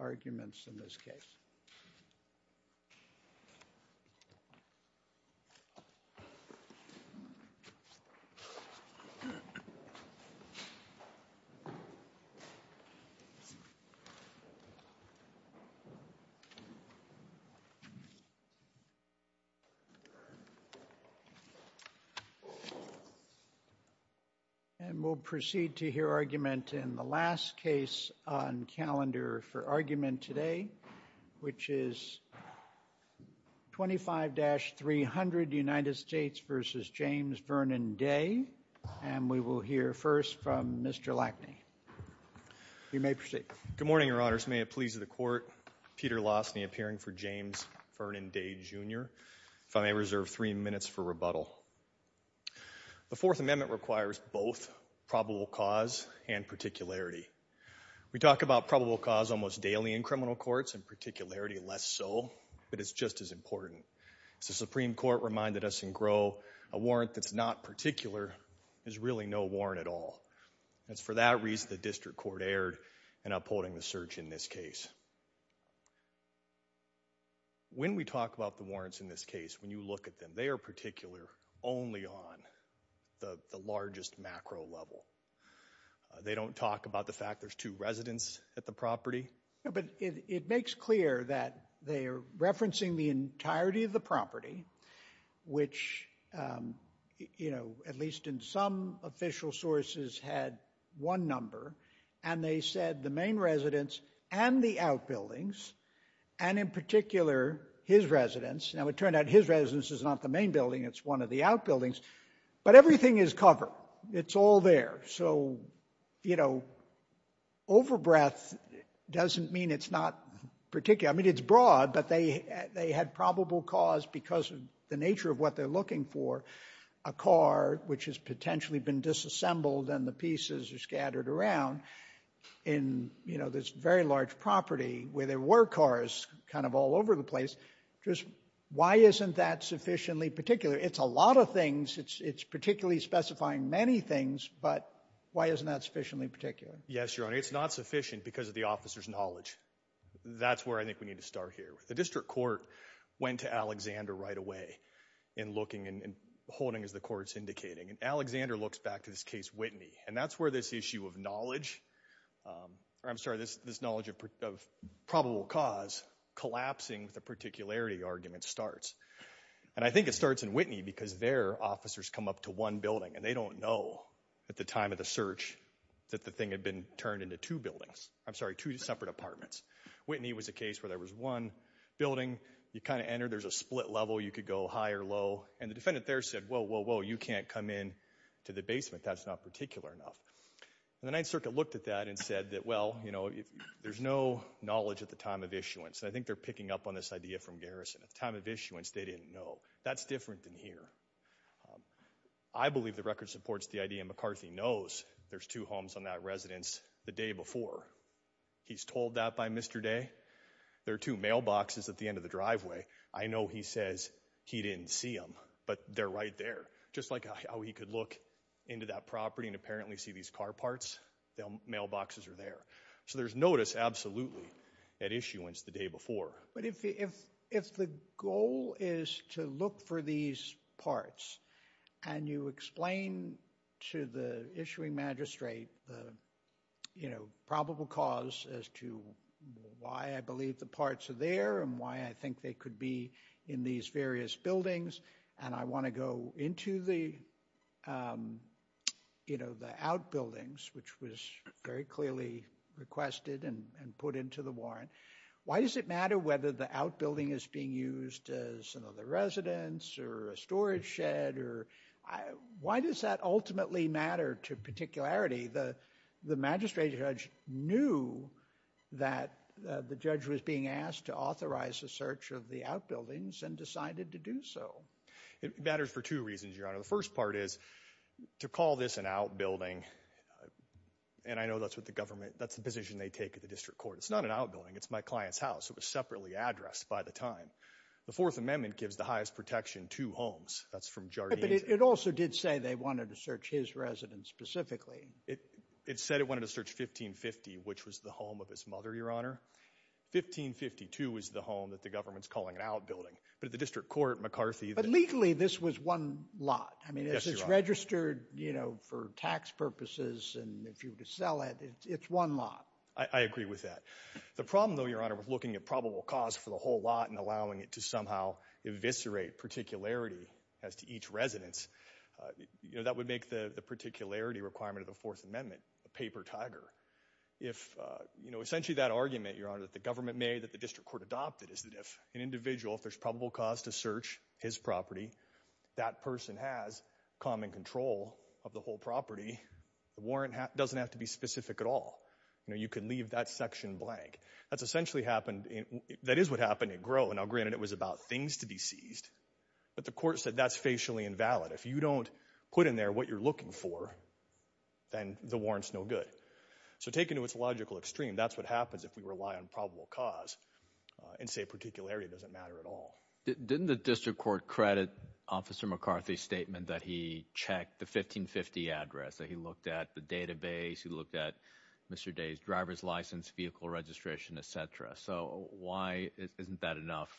arguments in this case. And we'll proceed to hear argument in the last case on calendar for argument today, which is 25-300 United States v. James Vernon Day. And we will hear first from Mr. Lackney. You may proceed. Good morning, Your Honors. May it please the Court, Peter Lassney appearing for James Vernon Day, Jr., if I may reserve three minutes for rebuttal. The Fourth Amendment requires both probable cause and particularity. We talk about probable cause almost daily in criminal courts, and particularity less so, but it's just as important. As the Supreme Court reminded us in Groh, a warrant that's not particular is really no warrant at all. And it's for that reason the District Court erred in upholding the search in this case. When we talk about the warrants in this case, when you look at them, they are particular only on the largest macro level. They don't talk about the fact there's two residents at the property. No, but it makes clear that they are referencing the entirety of the property, which, you know, at least in some official sources, had one number. And they said the main residence and the outbuildings, and in particular his residence, now it turned out his residence is not the main building, it's one of the outbuildings. But everything is covered. It's all there. So, you know, overbreath doesn't mean it's not particular. I mean, it's broad, but they had probable cause because of the nature of what they're looking for, a car which has potentially been disassembled and the pieces are scattered around in, you know, this very large property where there were cars kind of all over the place. Just why isn't that sufficiently particular? It's a lot of things, it's particularly specifying many things, but why isn't that sufficiently particular? Yes, Your Honor. It's not sufficient because of the officer's knowledge. That's where I think we need to start here. The district court went to Alexander right away in looking and holding as the court's And Alexander looks back to this case Whitney, and that's where this issue of knowledge, I'm sorry, this knowledge of probable cause collapsing with a particularity argument starts. And I think it starts in Whitney because their officers come up to one building and they don't know at the time of the search that the thing had been turned into two buildings, I'm sorry, two separate apartments. Whitney was a case where there was one building, you kind of enter, there's a split level, you could go high or low, and the defendant there said, whoa, whoa, whoa, you can't come in to the basement, that's not particular enough. And the Ninth Circuit looked at that and said that, well, you know, there's no knowledge at the time of issuance. And I think they're picking up on this idea from Garrison. At the time of issuance, they didn't know. That's different than here. I believe the record supports the idea McCarthy knows there's two homes on that residence the day before. He's told that by Mr. Day. There are two mailboxes at the end of the driveway. I know he says he didn't see them, but they're right there. Just like how he could look into that property and apparently see these car parts, the mailboxes are there. So there's notice, absolutely, at issuance the day before. But if the goal is to look for these parts and you explain to the issuing magistrate the, you know, probable cause as to why I believe the parts are there and why I think they could be in these various buildings and I want to go into the, you know, the outbuildings, which was very clearly requested and put into the warrant. Why does it matter whether the outbuilding is being used as another residence or a storage shed or why does that ultimately matter to particularity? The magistrate judge knew that the judge was being asked to authorize a search of the outbuildings and decided to do so. It matters for two reasons, Your Honor. The first part is to call this an outbuilding. And I know that's what the government, that's the position they take at the district court. It's not an outbuilding. It's my client's house. It was separately addressed by the time. The Fourth Amendment gives the highest protection to homes. That's from Jardine's. But it also did say they wanted to search his residence specifically. It said it wanted to search 1550, which was the home of his mother, Your Honor. 1552 is the home that the government's calling an outbuilding. But at the district court, McCarthy. But legally, this was one lot. I mean, this is registered, you know, for tax purposes and if you were to sell it, it's one lot. I agree with that. The problem, though, Your Honor, with looking at probable cause for the whole lot and allowing it to somehow eviscerate particularity as to each residence, you know, that would make the particularity requirement of the Fourth Amendment a paper tiger. If, you know, essentially that argument, Your Honor, that the government made that the district court adopted is that if an individual, if there's probable cause to search his property, that person has common control of the whole property, the warrant doesn't have to be specific at all. You know, you can leave that section blank. That's essentially happened. That is what happened in Grow. Now, granted, it was about things to be seized, but the court said that's facially invalid. If you don't put in there what you're looking for, then the warrant's no good. So taken to its logical extreme, that's what happens if we rely on probable cause and say particularity doesn't matter at all. Didn't the district court credit Officer McCarthy's statement that he checked the 1550 address, that he looked at the database, he looked at Mr. Day's driver's license, vehicle registration, et cetera? So why isn't that enough,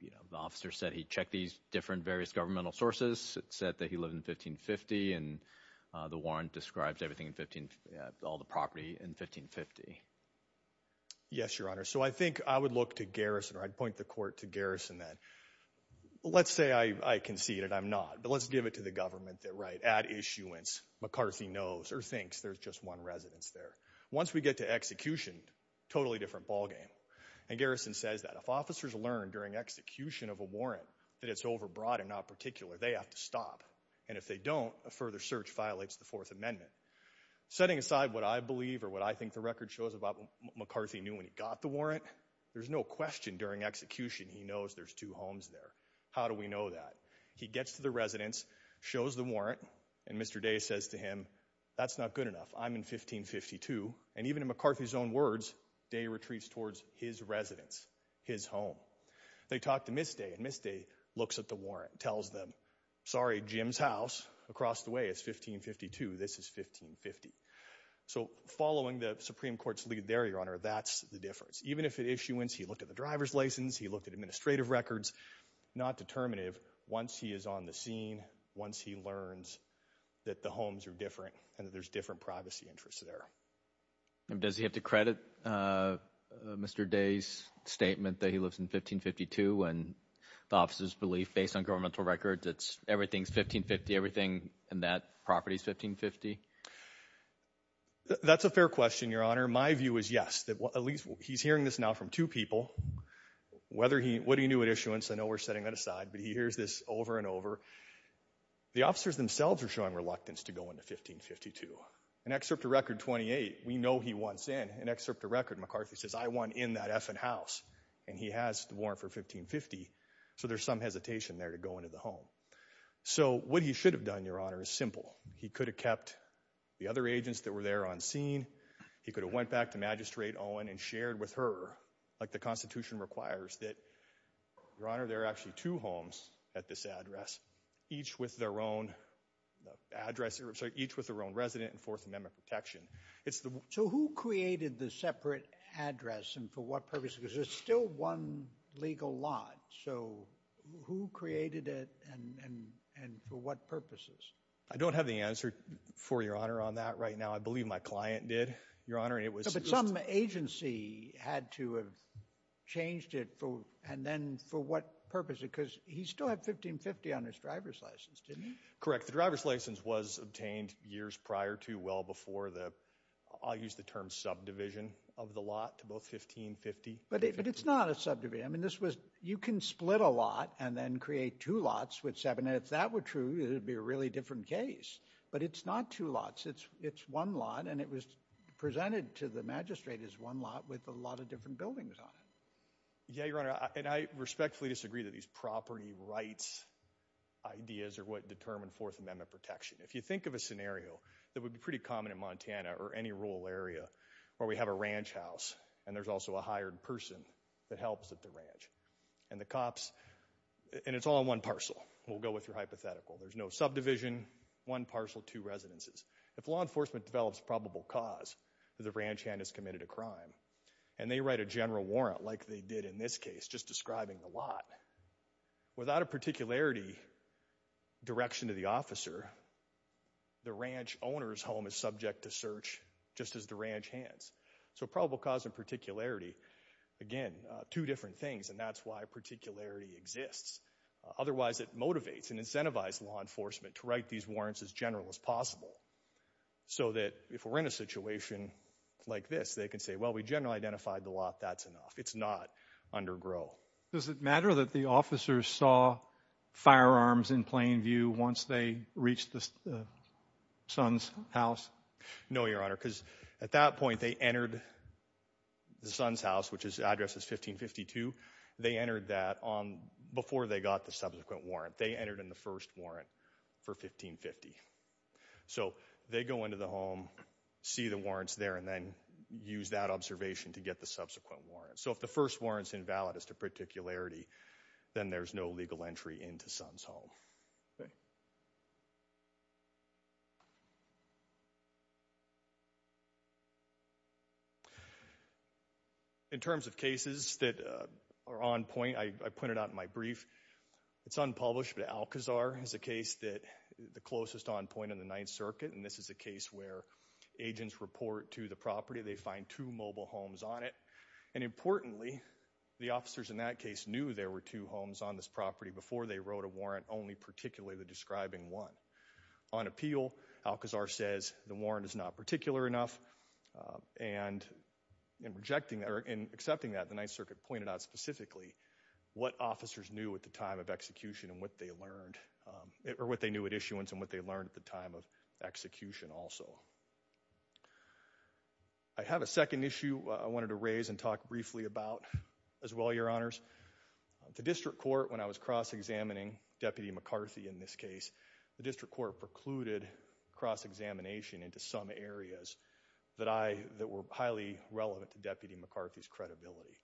you know, the officer said he checked these different various governmental sources. It said that he lived in 1550, and the warrant describes everything in 15, all the property in 1550. Yes, Your Honor. So I think I would look to Garrison, or I'd point the court to Garrison, that let's say I concede, and I'm not, but let's give it to the government that, right, at issuance, McCarthy knows or thinks there's just one residence there. Once we get to execution, totally different ballgame. And Garrison says that if officers learn during execution of a warrant that it's overbroad and not particular, they have to stop. And if they don't, a further search violates the Fourth Amendment. Setting aside what I believe or what I think the record shows about what McCarthy knew when he got the warrant, there's no question during execution he knows there's two homes there. How do we know that? He gets to the residence, shows the warrant, and Mr. Day says to him, that's not good enough. I'm in 1552. And even in McCarthy's own words, Day retreats towards his residence, his home. They talk to Ms. Day, and Ms. Day looks at the warrant, tells them, sorry, Jim's house across the way is 1552, this is 1550. So following the Supreme Court's lead there, Your Honor, that's the difference. Even if at issuance, he looked at the driver's license, he looked at administrative records, not determinative, once he is on the scene, once he learns that the homes are different and that there's different privacy interests there. Does he have to credit Mr. Day's statement that he lives in 1552 when the officer's belief, based on governmental records, it's everything's 1550, everything in that property's 1550? That's a fair question, Your Honor. My view is yes. At least he's hearing this now from two people. Whether he, what he knew at issuance, I know we're setting that aside, but he hears this over and over. The officers themselves are showing reluctance to go into 1552. In Excerpt to Record 28, we know he wants in. In Excerpt to Record, McCarthy says, I want in that effing house. And he has the warrant for 1550, so there's some hesitation there to go into the home. So what he should have done, Your Honor, is simple. He could have kept the other agents that were there on scene. He could have went back to Magistrate Owen and shared with her, like the Constitution requires that, Your Honor, there are actually two homes at this address, each with their own resident and Fourth Amendment protection. So who created the separate address, and for what purpose? Because there's still one legal lot. So who created it, and for what purposes? I don't have the answer for Your Honor on that right now. I believe my client did, Your Honor, and it was— But some agency had to have changed it, and then for what purpose? Because he still had 1550 on his driver's license, didn't he? Correct. The driver's license was obtained years prior to, well before the—I'll use the term subdivision of the lot to both 1550 and 1550. But it's not a subdivision. I mean, this was—you can split a lot and then create two lots with seven, and if that were true, it would be a really different case. But it's not two lots. It's one lot, and it was presented to the magistrate as one lot with a lot of different buildings on it. Yeah, Your Honor, and I respectfully disagree that these property rights ideas are what determine Fourth Amendment protection. If you think of a scenario that would be pretty common in Montana or any rural area where we have a ranch house, and there's also a hired person that helps at the ranch, and the cops—and it's all in one parcel, we'll go with your hypothetical. There's no subdivision, one parcel, two residences. If law enforcement develops probable cause that the ranch hand has committed a crime, and they write a general warrant like they did in this case, just describing the lot, without a particularity direction to the officer, the ranch owner's home is subject to search just as the ranch hand's. So probable cause and particularity, again, two different things, and that's why particularity exists. Otherwise, it motivates and incentivizes law enforcement to write these warrants as general as possible, so that if we're in a situation like this, they can say, well, we generally identified the lot, that's enough. It's not under GRO. Does it matter that the officers saw firearms in plain view once they reached the son's house? No, Your Honor, because at that point, they entered the son's house, which's address is 1552. They entered that before they got the subsequent warrant. They entered in the first warrant for 1550. So they go into the home, see the warrants there, and then use that observation to get the subsequent warrant. So if the first warrant's invalid as to particularity, then there's no legal entry into son's home. In terms of cases that are on point, I pointed out in my brief, it's unpublished, but Alcazar is a case that, the closest on point in the Ninth Circuit, and this is a case where agents report to the property. They find two mobile homes on it. And importantly, the officers in that case knew there were two homes on this property before they wrote a warrant, only particularly the describing one. On appeal, Alcazar says the warrant is not particular enough, and in accepting that, the Ninth Circuit pointed out specifically what officers knew at the time of execution and what they learned, or what they knew at issuance and what they learned at the time of execution also. I have a second issue I wanted to raise and talk briefly about as well, Your Honors. The district court, when I was cross-examining Deputy McCarthy in this case, the district court precluded cross-examination into some areas that were highly relevant to Deputy McCarthy's credibility.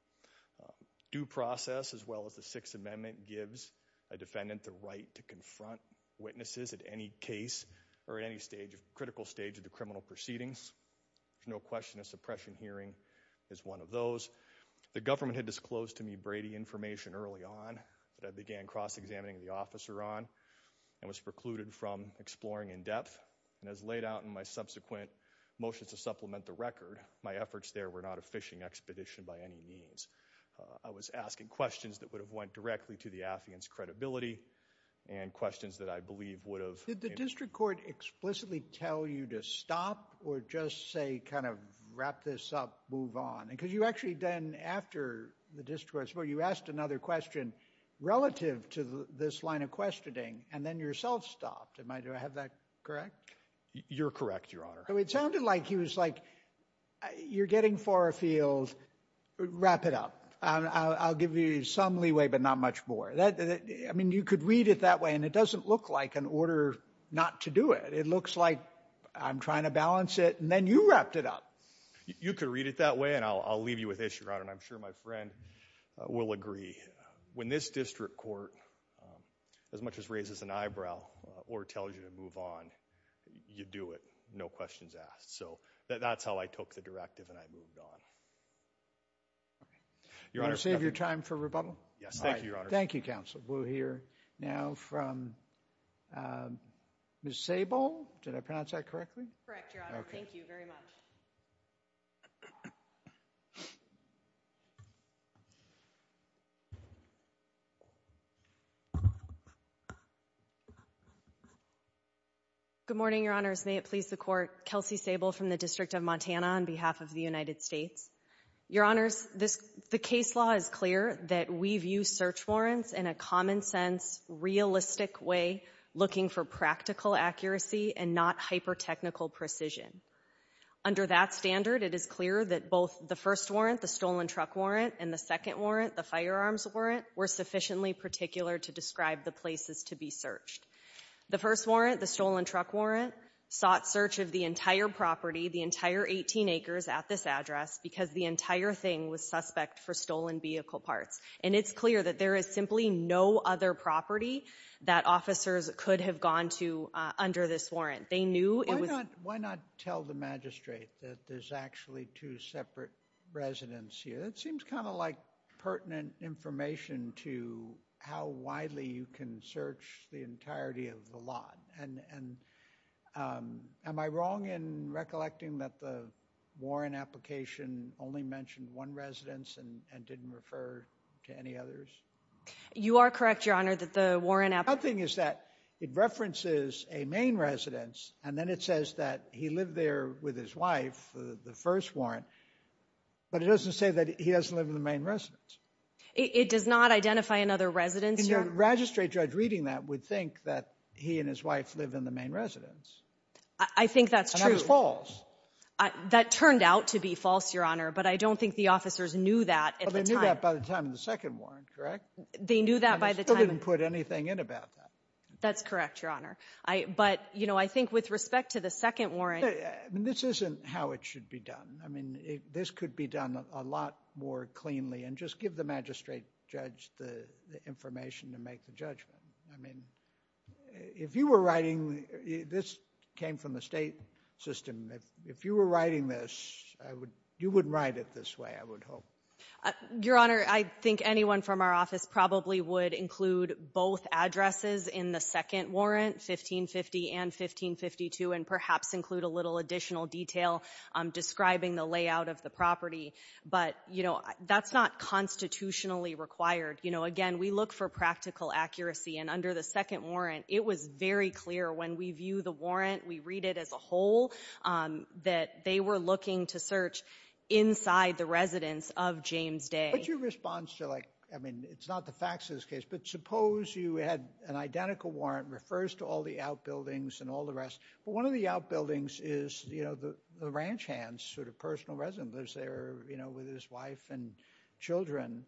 Due process, as well as the Sixth Amendment, gives a defendant the right to confront witnesses at any case or at any critical stage of the criminal proceedings. There's no question a suppression hearing is one of those. The government had disclosed to me, Brady, information early on that I began cross-examining the officer on and was precluded from exploring in depth. And as laid out in my subsequent motions to supplement the record, my efforts there were not a fishing expedition by any means. I was asking questions that would have went directly to the affiant's credibility and questions that I believe would have... Did the district court explicitly tell you to stop or just say, kind of, wrap this up, move on? Because you actually then, after the district court, you asked another question relative to this line of questioning and then yourself stopped. Do I have that correct? You're correct, Your Honor. It sounded like he was like, you're getting far afield, wrap it up. I'll give you some leeway, but not much more. You could read it that way and it doesn't look like an order not to do it. It looks like I'm trying to balance it and then you wrapped it up. You could read it that way and I'll leave you with this, Your Honor, and I'm sure my friend will agree. When this district court, as much as raises an eyebrow or tells you to move on, you do it. No questions asked. So, that's how I took the directive and I moved on. Your Honor... You want to save your time for rebuttal? Yes. Thank you, Your Honor. Thank you, counsel. We'll hear now from Ms. Sable. Did I pronounce that correctly? Correct, Your Honor. Okay. Thank you very much. Good morning, Your Honors. May it please the court. Kelsey Sable from the District of Montana on behalf of the United States. Your Honors, the case law is clear that we view search warrants in a common sense, realistic way, looking for practical accuracy and not hyper-technical precision. Under that standard, it is clear that both the first warrant, the stolen truck warrant, and the second warrant, the firearms warrant, were sufficiently particular to describe the places to be searched. The first warrant, the stolen truck warrant, sought search of the entire property, the entire 18 acres at this address, because the entire thing was suspect for stolen vehicle parts. It's clear that there is simply no other property that officers could have gone to under this warrant. They knew it was... Why not tell the magistrate that there's actually two separate residents here? It seems kind of like pertinent information to how widely you can search the entirety of the lot. And am I wrong in recollecting that the warrant application only mentioned one residence and didn't refer to any others? You are correct, Your Honor, that the warrant... The thing is that it references a main residence, and then it says that he lived there with his wife, the first warrant, but it doesn't say that he doesn't live in the main residence. It does not identify another residence, Your Honor? The magistrate judge reading that would think that he and his wife live in the main residence. I think that's true. That turned out to be false, Your Honor, but I don't think the officers knew that at the time. Well, they knew that by the time of the second warrant, correct? They knew that by the time... And they still didn't put anything in about that. That's correct, Your Honor. But I think with respect to the second warrant... This isn't how it should be done. This could be done a lot more cleanly, and just give the magistrate judge the information to make the judgment. If you were writing... This came from the state system. If you were writing this, you wouldn't write it this way, I would hope. Your Honor, I think anyone from our office probably would include both addresses in the second warrant, 1550 and 1552, and perhaps include a little additional detail describing the layout of the property. But that's not constitutionally required. Again, we look for practical accuracy, and under the second warrant, it was very clear when we view the warrant, we read it as a whole, that they were looking to search inside the residence of James Day. But your response to... I mean, it's not the facts of this case, but suppose you had an identical warrant, refers to all the outbuildings and all the rest. One of the outbuildings is the ranch hand's personal residence, lives there with his wife and children,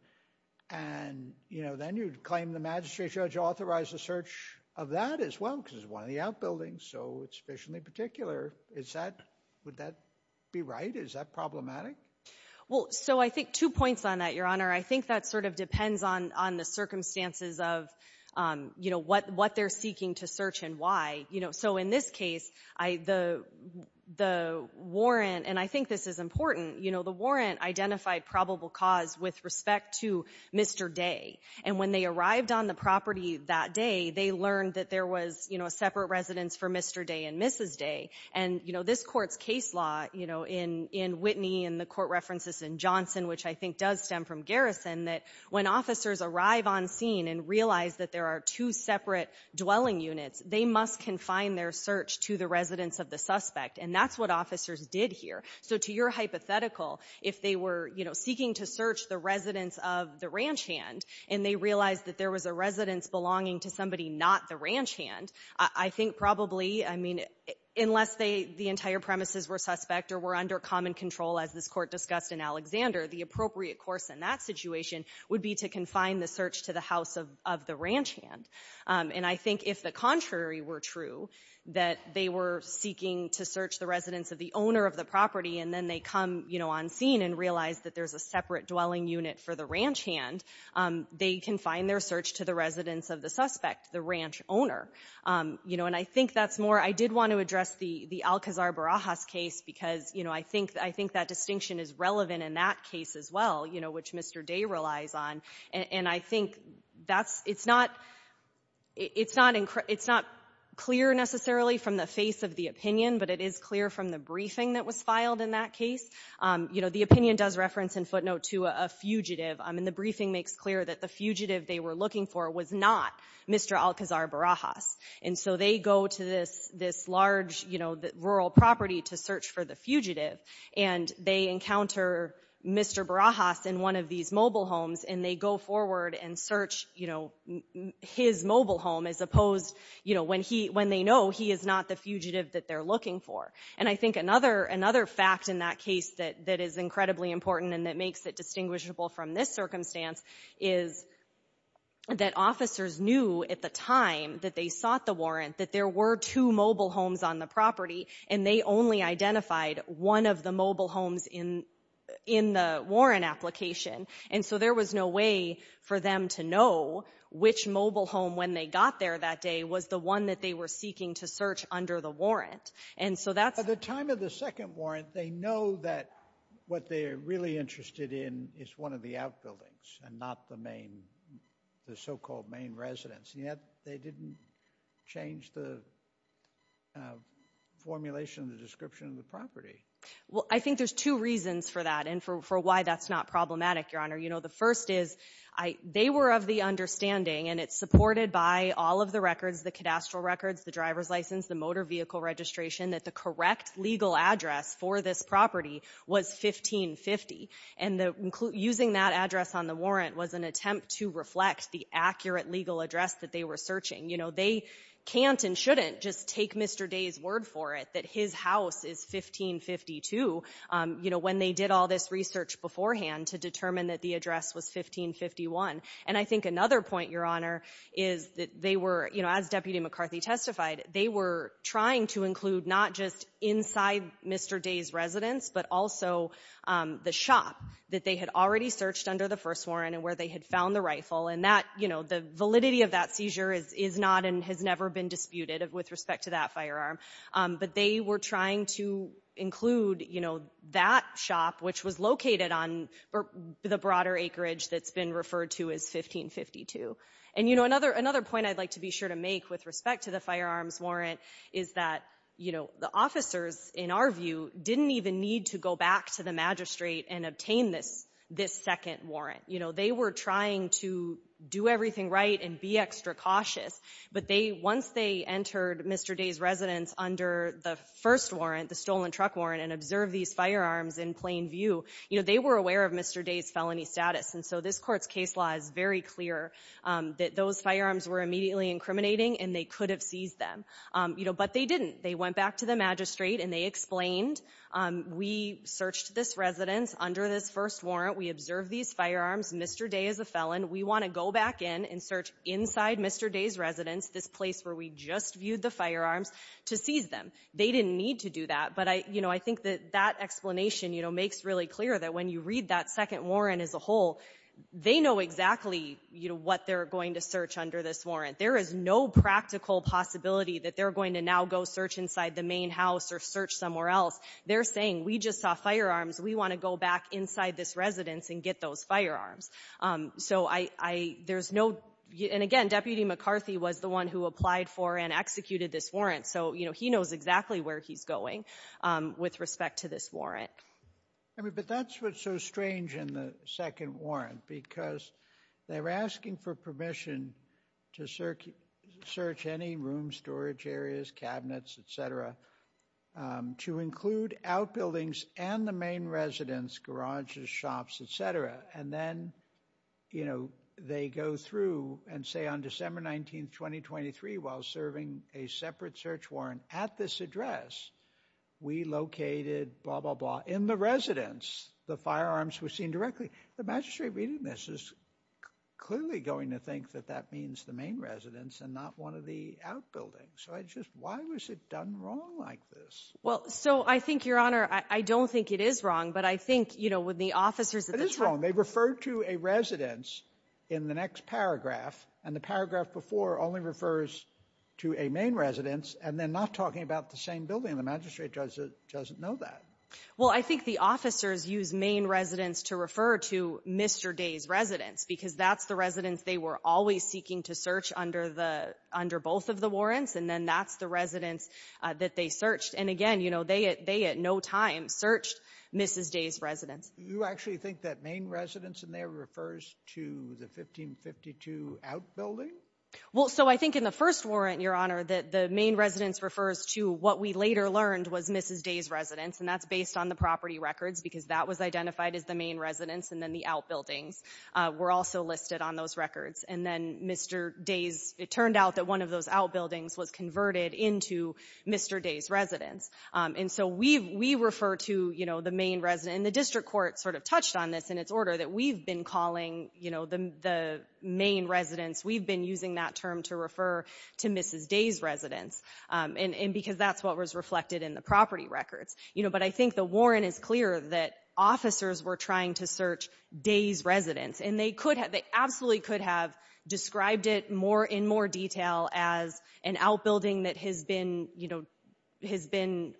and then you'd claim the magistrate judge authorized the search of that as well, because it's one of the outbuildings, so it's officially particular. Would that be right? Is that problematic? Well, so I think two points on that, Your Honor. I think that sort of depends on the circumstances of what they're seeking to search and why. So in this case, the warrant, and I think this is important, the warrant identified probable cause with respect to Mr. Day. And when they arrived on the property that day, they learned that there was a separate residence for Mr. Day and Mrs. Day. And this Court's case law in Whitney and the Court references in Johnson, which I think does stem from Garrison, that when officers arrive on scene and realize that there are two separate dwelling units, they must confine their search to the residence of the suspect. And that's what officers did here. So to your hypothetical, if they were, you know, seeking to search the residence of the ranch hand, and they realized that there was a residence belonging to somebody not the ranch hand, I think probably, I mean, unless the entire premises were suspect or were under common control, as this Court discussed in Alexander, the appropriate course in that situation would be to confine the search to the house of the ranch hand. And I think if the contrary were true, that they were seeking to search the residence of the owner of the property, and then they come, you know, on scene and realize that there's a separate dwelling unit for the ranch hand, they confine their search to the residence of the suspect, the ranch owner. You know, and I think that's more, I did want to address the Alcazar Barajas case because, you know, I think that distinction is relevant in that case as well, you know, which Mr. Day relies on. And I think that's, it's not, it's not clear necessarily from the face of the opinion, but it is clear from the briefing that was filed in that case. You know, the opinion does reference in footnote to a fugitive. I mean, the briefing makes clear that the fugitive they were looking for was not Mr. Alcazar Barajas. And so they go to this large, you know, rural property to search for the fugitive. And they encounter Mr. Barajas in one of these mobile homes, and they go forward and search, you know, his mobile home as opposed, you know, when he, when they know he is not the fugitive that they're looking for. And I think another fact in that case that is incredibly important and that makes it distinguishable from this circumstance is that officers knew at the time that they sought the warrant that there were two mobile homes on the property, and they only identified one of the mobile homes in, in the warrant application. And so there was no way for them to know which mobile home when they got there that day was the one that they were seeking to search under the warrant. And so that's... At the time of the second warrant, they know that what they're really interested in is one of the outbuildings and not the main, the so-called main residence. Yet, they didn't change the formulation, the description of the property. Well, I think there's two reasons for that and for why that's not problematic, Your Honor. You know, the first is, they were of the understanding, and it's supported by all of the records, the cadastral records, the driver's license, the motor vehicle registration, that the correct legal address for this property was 1550. And the, using that address on the warrant was an attempt to reflect the accurate legal address that they were searching. You know, they can't and shouldn't just take Mr. Day's word for it that his house is 1552, you know, when they did all this research beforehand to determine that the address was 1551. And I think another point, Your Honor, is that they were, you know, as Deputy McCarthy testified, they were trying to include not just inside Mr. Day's residence, but also the shop that they had already searched under the first warrant and where they had found the rifle. And that, you know, the validity of that seizure is not and has never been disputed with respect to that firearm. But they were trying to include, you know, that shop, which was located on the broader acreage that's been referred to as 1552. And, you know, another point I'd like to be sure to make with respect to the firearms warrant is that, you know, the officers, in our view, didn't even need to go back to the magistrate and obtain this second warrant. You know, they were trying to do everything right and be extra cautious. But they, once they entered Mr. Day's residence under the first warrant, the stolen truck warrant, and observed these firearms in plain view, you know, they were aware of Mr. Day's felony status. And so this court's case law is very clear that those firearms were immediately incriminating and they could have seized them. You know, but they didn't. They went back to the magistrate and they explained, we searched this residence under this first warrant. We observed these firearms. Mr. Day is a felon. We want to go back in and search inside Mr. Day's residence, this place where we just viewed the firearms, to seize them. They didn't need to do that. But I, you know, I think that that explanation, you know, makes really clear that when you read that second warrant as a whole, they know exactly, you know, what they're going to search under this warrant. There is no practical possibility that they're going to now go search inside the main house or search somewhere else. They're saying, we just saw firearms. We want to go back inside this residence and get those firearms. So I, there's no, and again, Deputy McCarthy was the one who applied for and executed this warrant. So, you know, he knows exactly where he's going with respect to this warrant. I mean, but that's what's so strange in the second warrant, because they were asking for permission to search any room, storage areas, cabinets, et cetera, to include outbuildings and the main residence, garages, shops, et cetera. And then, you know, they go through and say on December 19th, 2023, while serving a separate search warrant at this address, we located blah, blah, blah in the residence. The firearms were seen directly. The magistrate reading this is clearly going to think that that means the main residence and not one of the outbuildings. So I just, why was it done wrong like this? Well, so I think, Your Honor, I don't think it is wrong, but I think, you know, with the officers at the time- They referred to a residence in the next paragraph and the paragraph before only refers to a main residence, and they're not talking about the same building. The magistrate judge doesn't know that. Well, I think the officers use main residence to refer to Mr. Day's residence, because that's the residence they were always seeking to search under both of the warrants. And then that's the residence that they searched. And again, you know, they at no time searched Mrs. Day's residence. You actually think that main residence in there refers to the 1552 outbuilding? Well, so I think in the first warrant, Your Honor, that the main residence refers to what we later learned was Mrs. Day's residence, and that's based on the property records, because that was identified as the main residence, and then the outbuildings were also listed on those records. And then Mr. Day's, it turned out that one of those outbuildings was converted into Mr. Day's residence. And so we refer to, you know, the main residence, and the district court sort of touched on this in its order, that we've been calling, you know, the main residence, we've been using that term to refer to Mrs. Day's residence, because that's what was reflected in the property records. You know, but I think the warrant is clear that officers were trying to search Day's residence, and they absolutely could have described it in more detail as an outbuilding that has been, you know, has been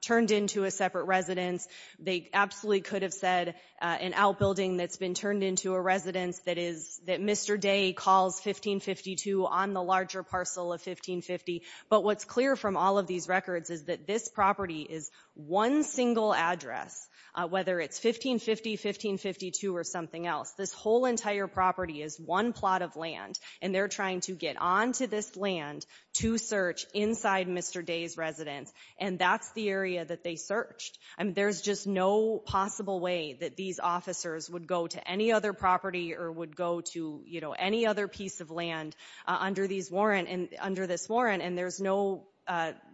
turned into a separate residence. They absolutely could have said an outbuilding that's been turned into a residence that is, that Mr. Day calls 1552 on the larger parcel of 1550. But what's clear from all of these records is that this property is one single address, whether it's 1550, 1552, or something else. This whole entire property is one plot of land, and they're trying to get onto this land to search inside Mr. Day's residence, and that's the area that they searched. I mean, there's just no possible way that these officers would go to any other property or would go to, you know, any other piece of land under these warrant, under this warrant, and there's no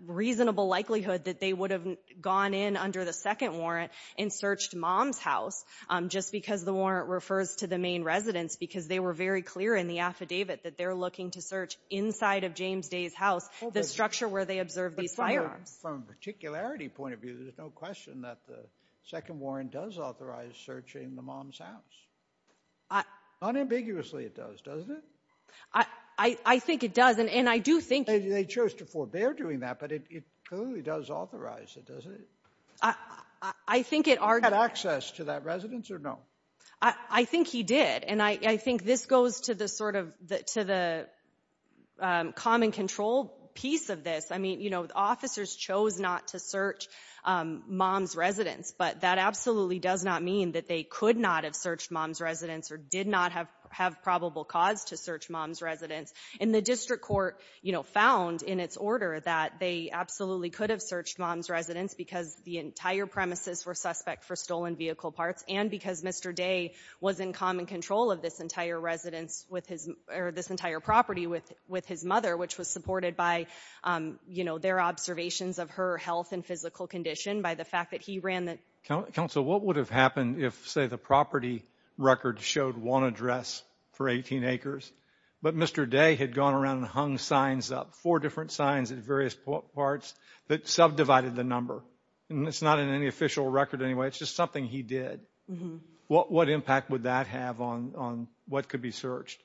reasonable likelihood that they would have gone in under the second warrant and searched Mom's house, just because the warrant refers to the main residence, because they were very clear in the affidavit that they're looking to search inside of James Day's house, the structure where they observed these firearms. And from a particularity point of view, there's no question that the second warrant does authorize searching the Mom's house. Unambiguously it does, doesn't it? I think it does, and I do think... They chose to forbear doing that, but it clearly does authorize it, doesn't it? I think it... Did he have access to that residence or no? I think he did, and I think this goes to the sort of, to the common control piece of this. I mean, you know, officers chose not to search Mom's residence, but that absolutely does not mean that they could not have searched Mom's residence or did not have probable cause to search Mom's residence. And the district court, you know, found in its order that they absolutely could have searched Mom's residence because the entire premises were suspect for stolen vehicle parts and because Mr. Day was in common control of this entire residence with his, or this entire property with his mother, which was supported by, you know, their observations of her health and physical condition by the fact that he ran the... Counsel, what would have happened if, say, the property record showed one address for 18 acres, but Mr. Day had gone around and hung signs up, four different signs at various parts that subdivided the number? And it's not in any official record anyway, it's just something he did. What impact would that have on what could be searched?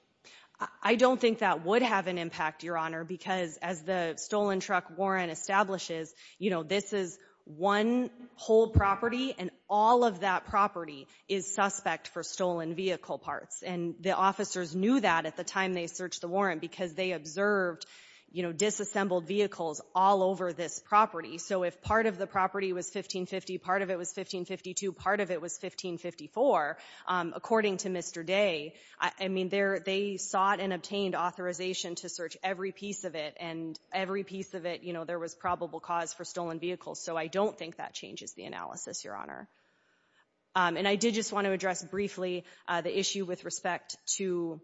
I don't think that would have an impact, Your Honor, because as the Stolen Truck Warrant establishes, you know, this is one whole property and all of that property is suspect for stolen vehicle parts. And the officers knew that at the time they searched the warrant because they observed, you know, disassembled vehicles all over this property. So if part of the property was 1550, part of it was 1552, part of it was 1554, according to Mr. Day, I mean, they sought and obtained authorization to search every piece of it and every piece of it, you know, there was probable cause for stolen vehicles. So I don't think that changes the analysis, Your Honor. And I did just want to address briefly the issue with respect to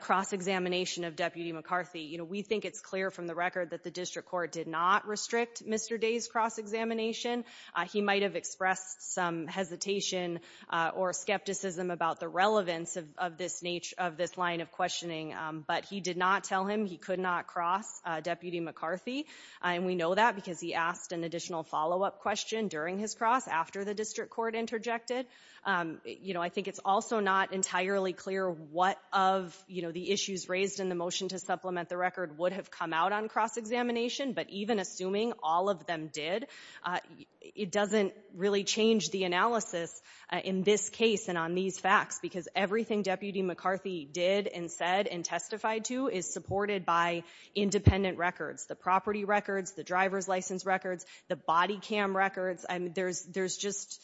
cross-examination of Deputy McCarthy. You know, we think it's clear from the record that the District Court did not restrict Mr. Day's cross-examination. He might have expressed some hesitation or skepticism about the relevance of this line of questioning, but he did not tell him he could not cross Deputy McCarthy. And we know that because he asked an additional follow-up question during his cross after the District Court interjected. You know, I think it's also not entirely clear what of, you know, the issues raised in the motion to supplement the record would have come out on cross-examination, but even assuming all of them did, it doesn't really change the analysis in this case and on these facts because everything Deputy McCarthy did and said and testified to is supported by independent records, the property records, the driver's license records, the body cam records. I mean, there's just,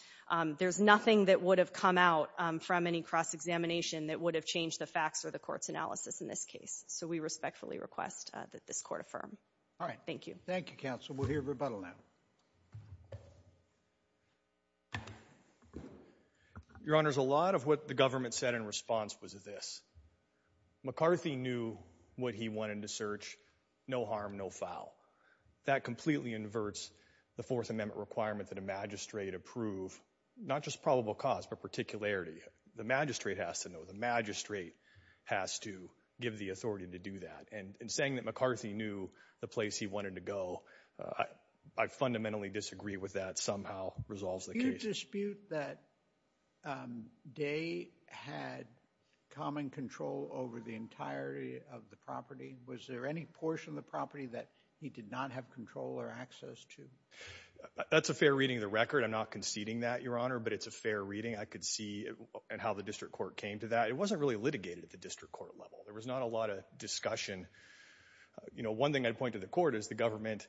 there's nothing that would have come out from any cross-examination that would have changed the facts or the court's analysis in this case. So we respectfully request that this court affirm. All right. Thank you. Thank you, Counsel. We'll hear rebuttal now. Your Honor, a lot of what the government said in response was this. McCarthy knew what he wanted to search, no harm, no foul. That completely inverts the Fourth Amendment requirement that a magistrate approve, not just probable cause, but particularity. The magistrate has to know, the magistrate has to give the authority to do that. And in saying that McCarthy knew the place he wanted to go, I fundamentally disagree with that. Somehow resolves the case. Do you dispute that Day had common control over the entirety of the property? Was there any portion of the property that he did not have control or access to? That's a fair reading of the record. I'm not conceding that, Your Honor, but it's a fair reading. I could see how the district court came to that. It wasn't really litigated at the district court level. There was not a lot of discussion. One thing I'd point to the court is the government,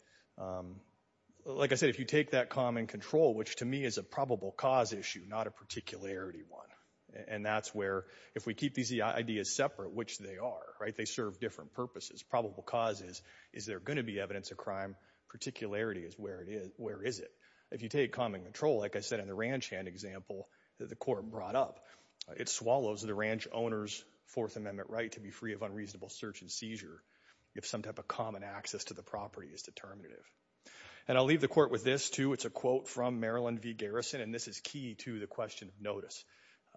like I said, if you take that common control, which to me is a probable cause issue, not a particularity one. And that's where, if we keep these ideas separate, which they are, they serve different purposes. Probable cause is, is there going to be evidence of crime? Particularity is, where is it? If you take common control, like I said in the ranch hand example that the court brought up, it swallows the ranch owner's Fourth Amendment right to be free of unreasonable search and seizure if some type of common access to the property is determinative. And I'll leave the court with this, too. It's a quote from Marilyn V. Garrison, and this is key to the question of notice.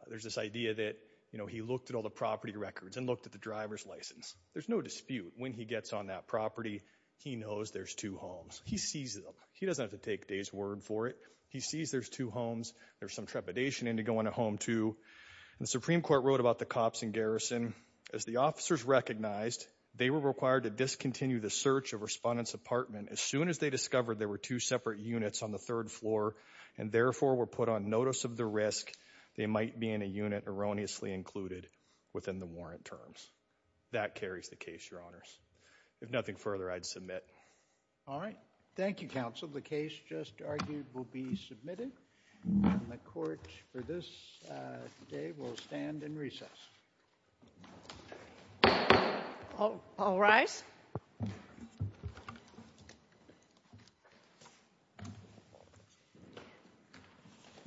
There's this idea that, you know, he looked at all the property records and looked at the driver's license. There's no dispute. When he gets on that property, he knows there's two homes. He sees them. He doesn't have to take Day's word for it. He sees there's two homes. There's some trepidation into going to home, too. The Supreme Court wrote about the cops in Garrison, as the officers recognized, they were required to discontinue the search of Respondent's apartment as soon as they discovered there were two separate units on the third floor, and therefore were put on notice of the risk they might be in a unit erroneously included within the warrant terms. That carries the case, Your Honors. If nothing further, I'd submit. All right. Thank you, Counsel. The case just argued will be submitted, and the Court, for this day, will stand in recess. All rise.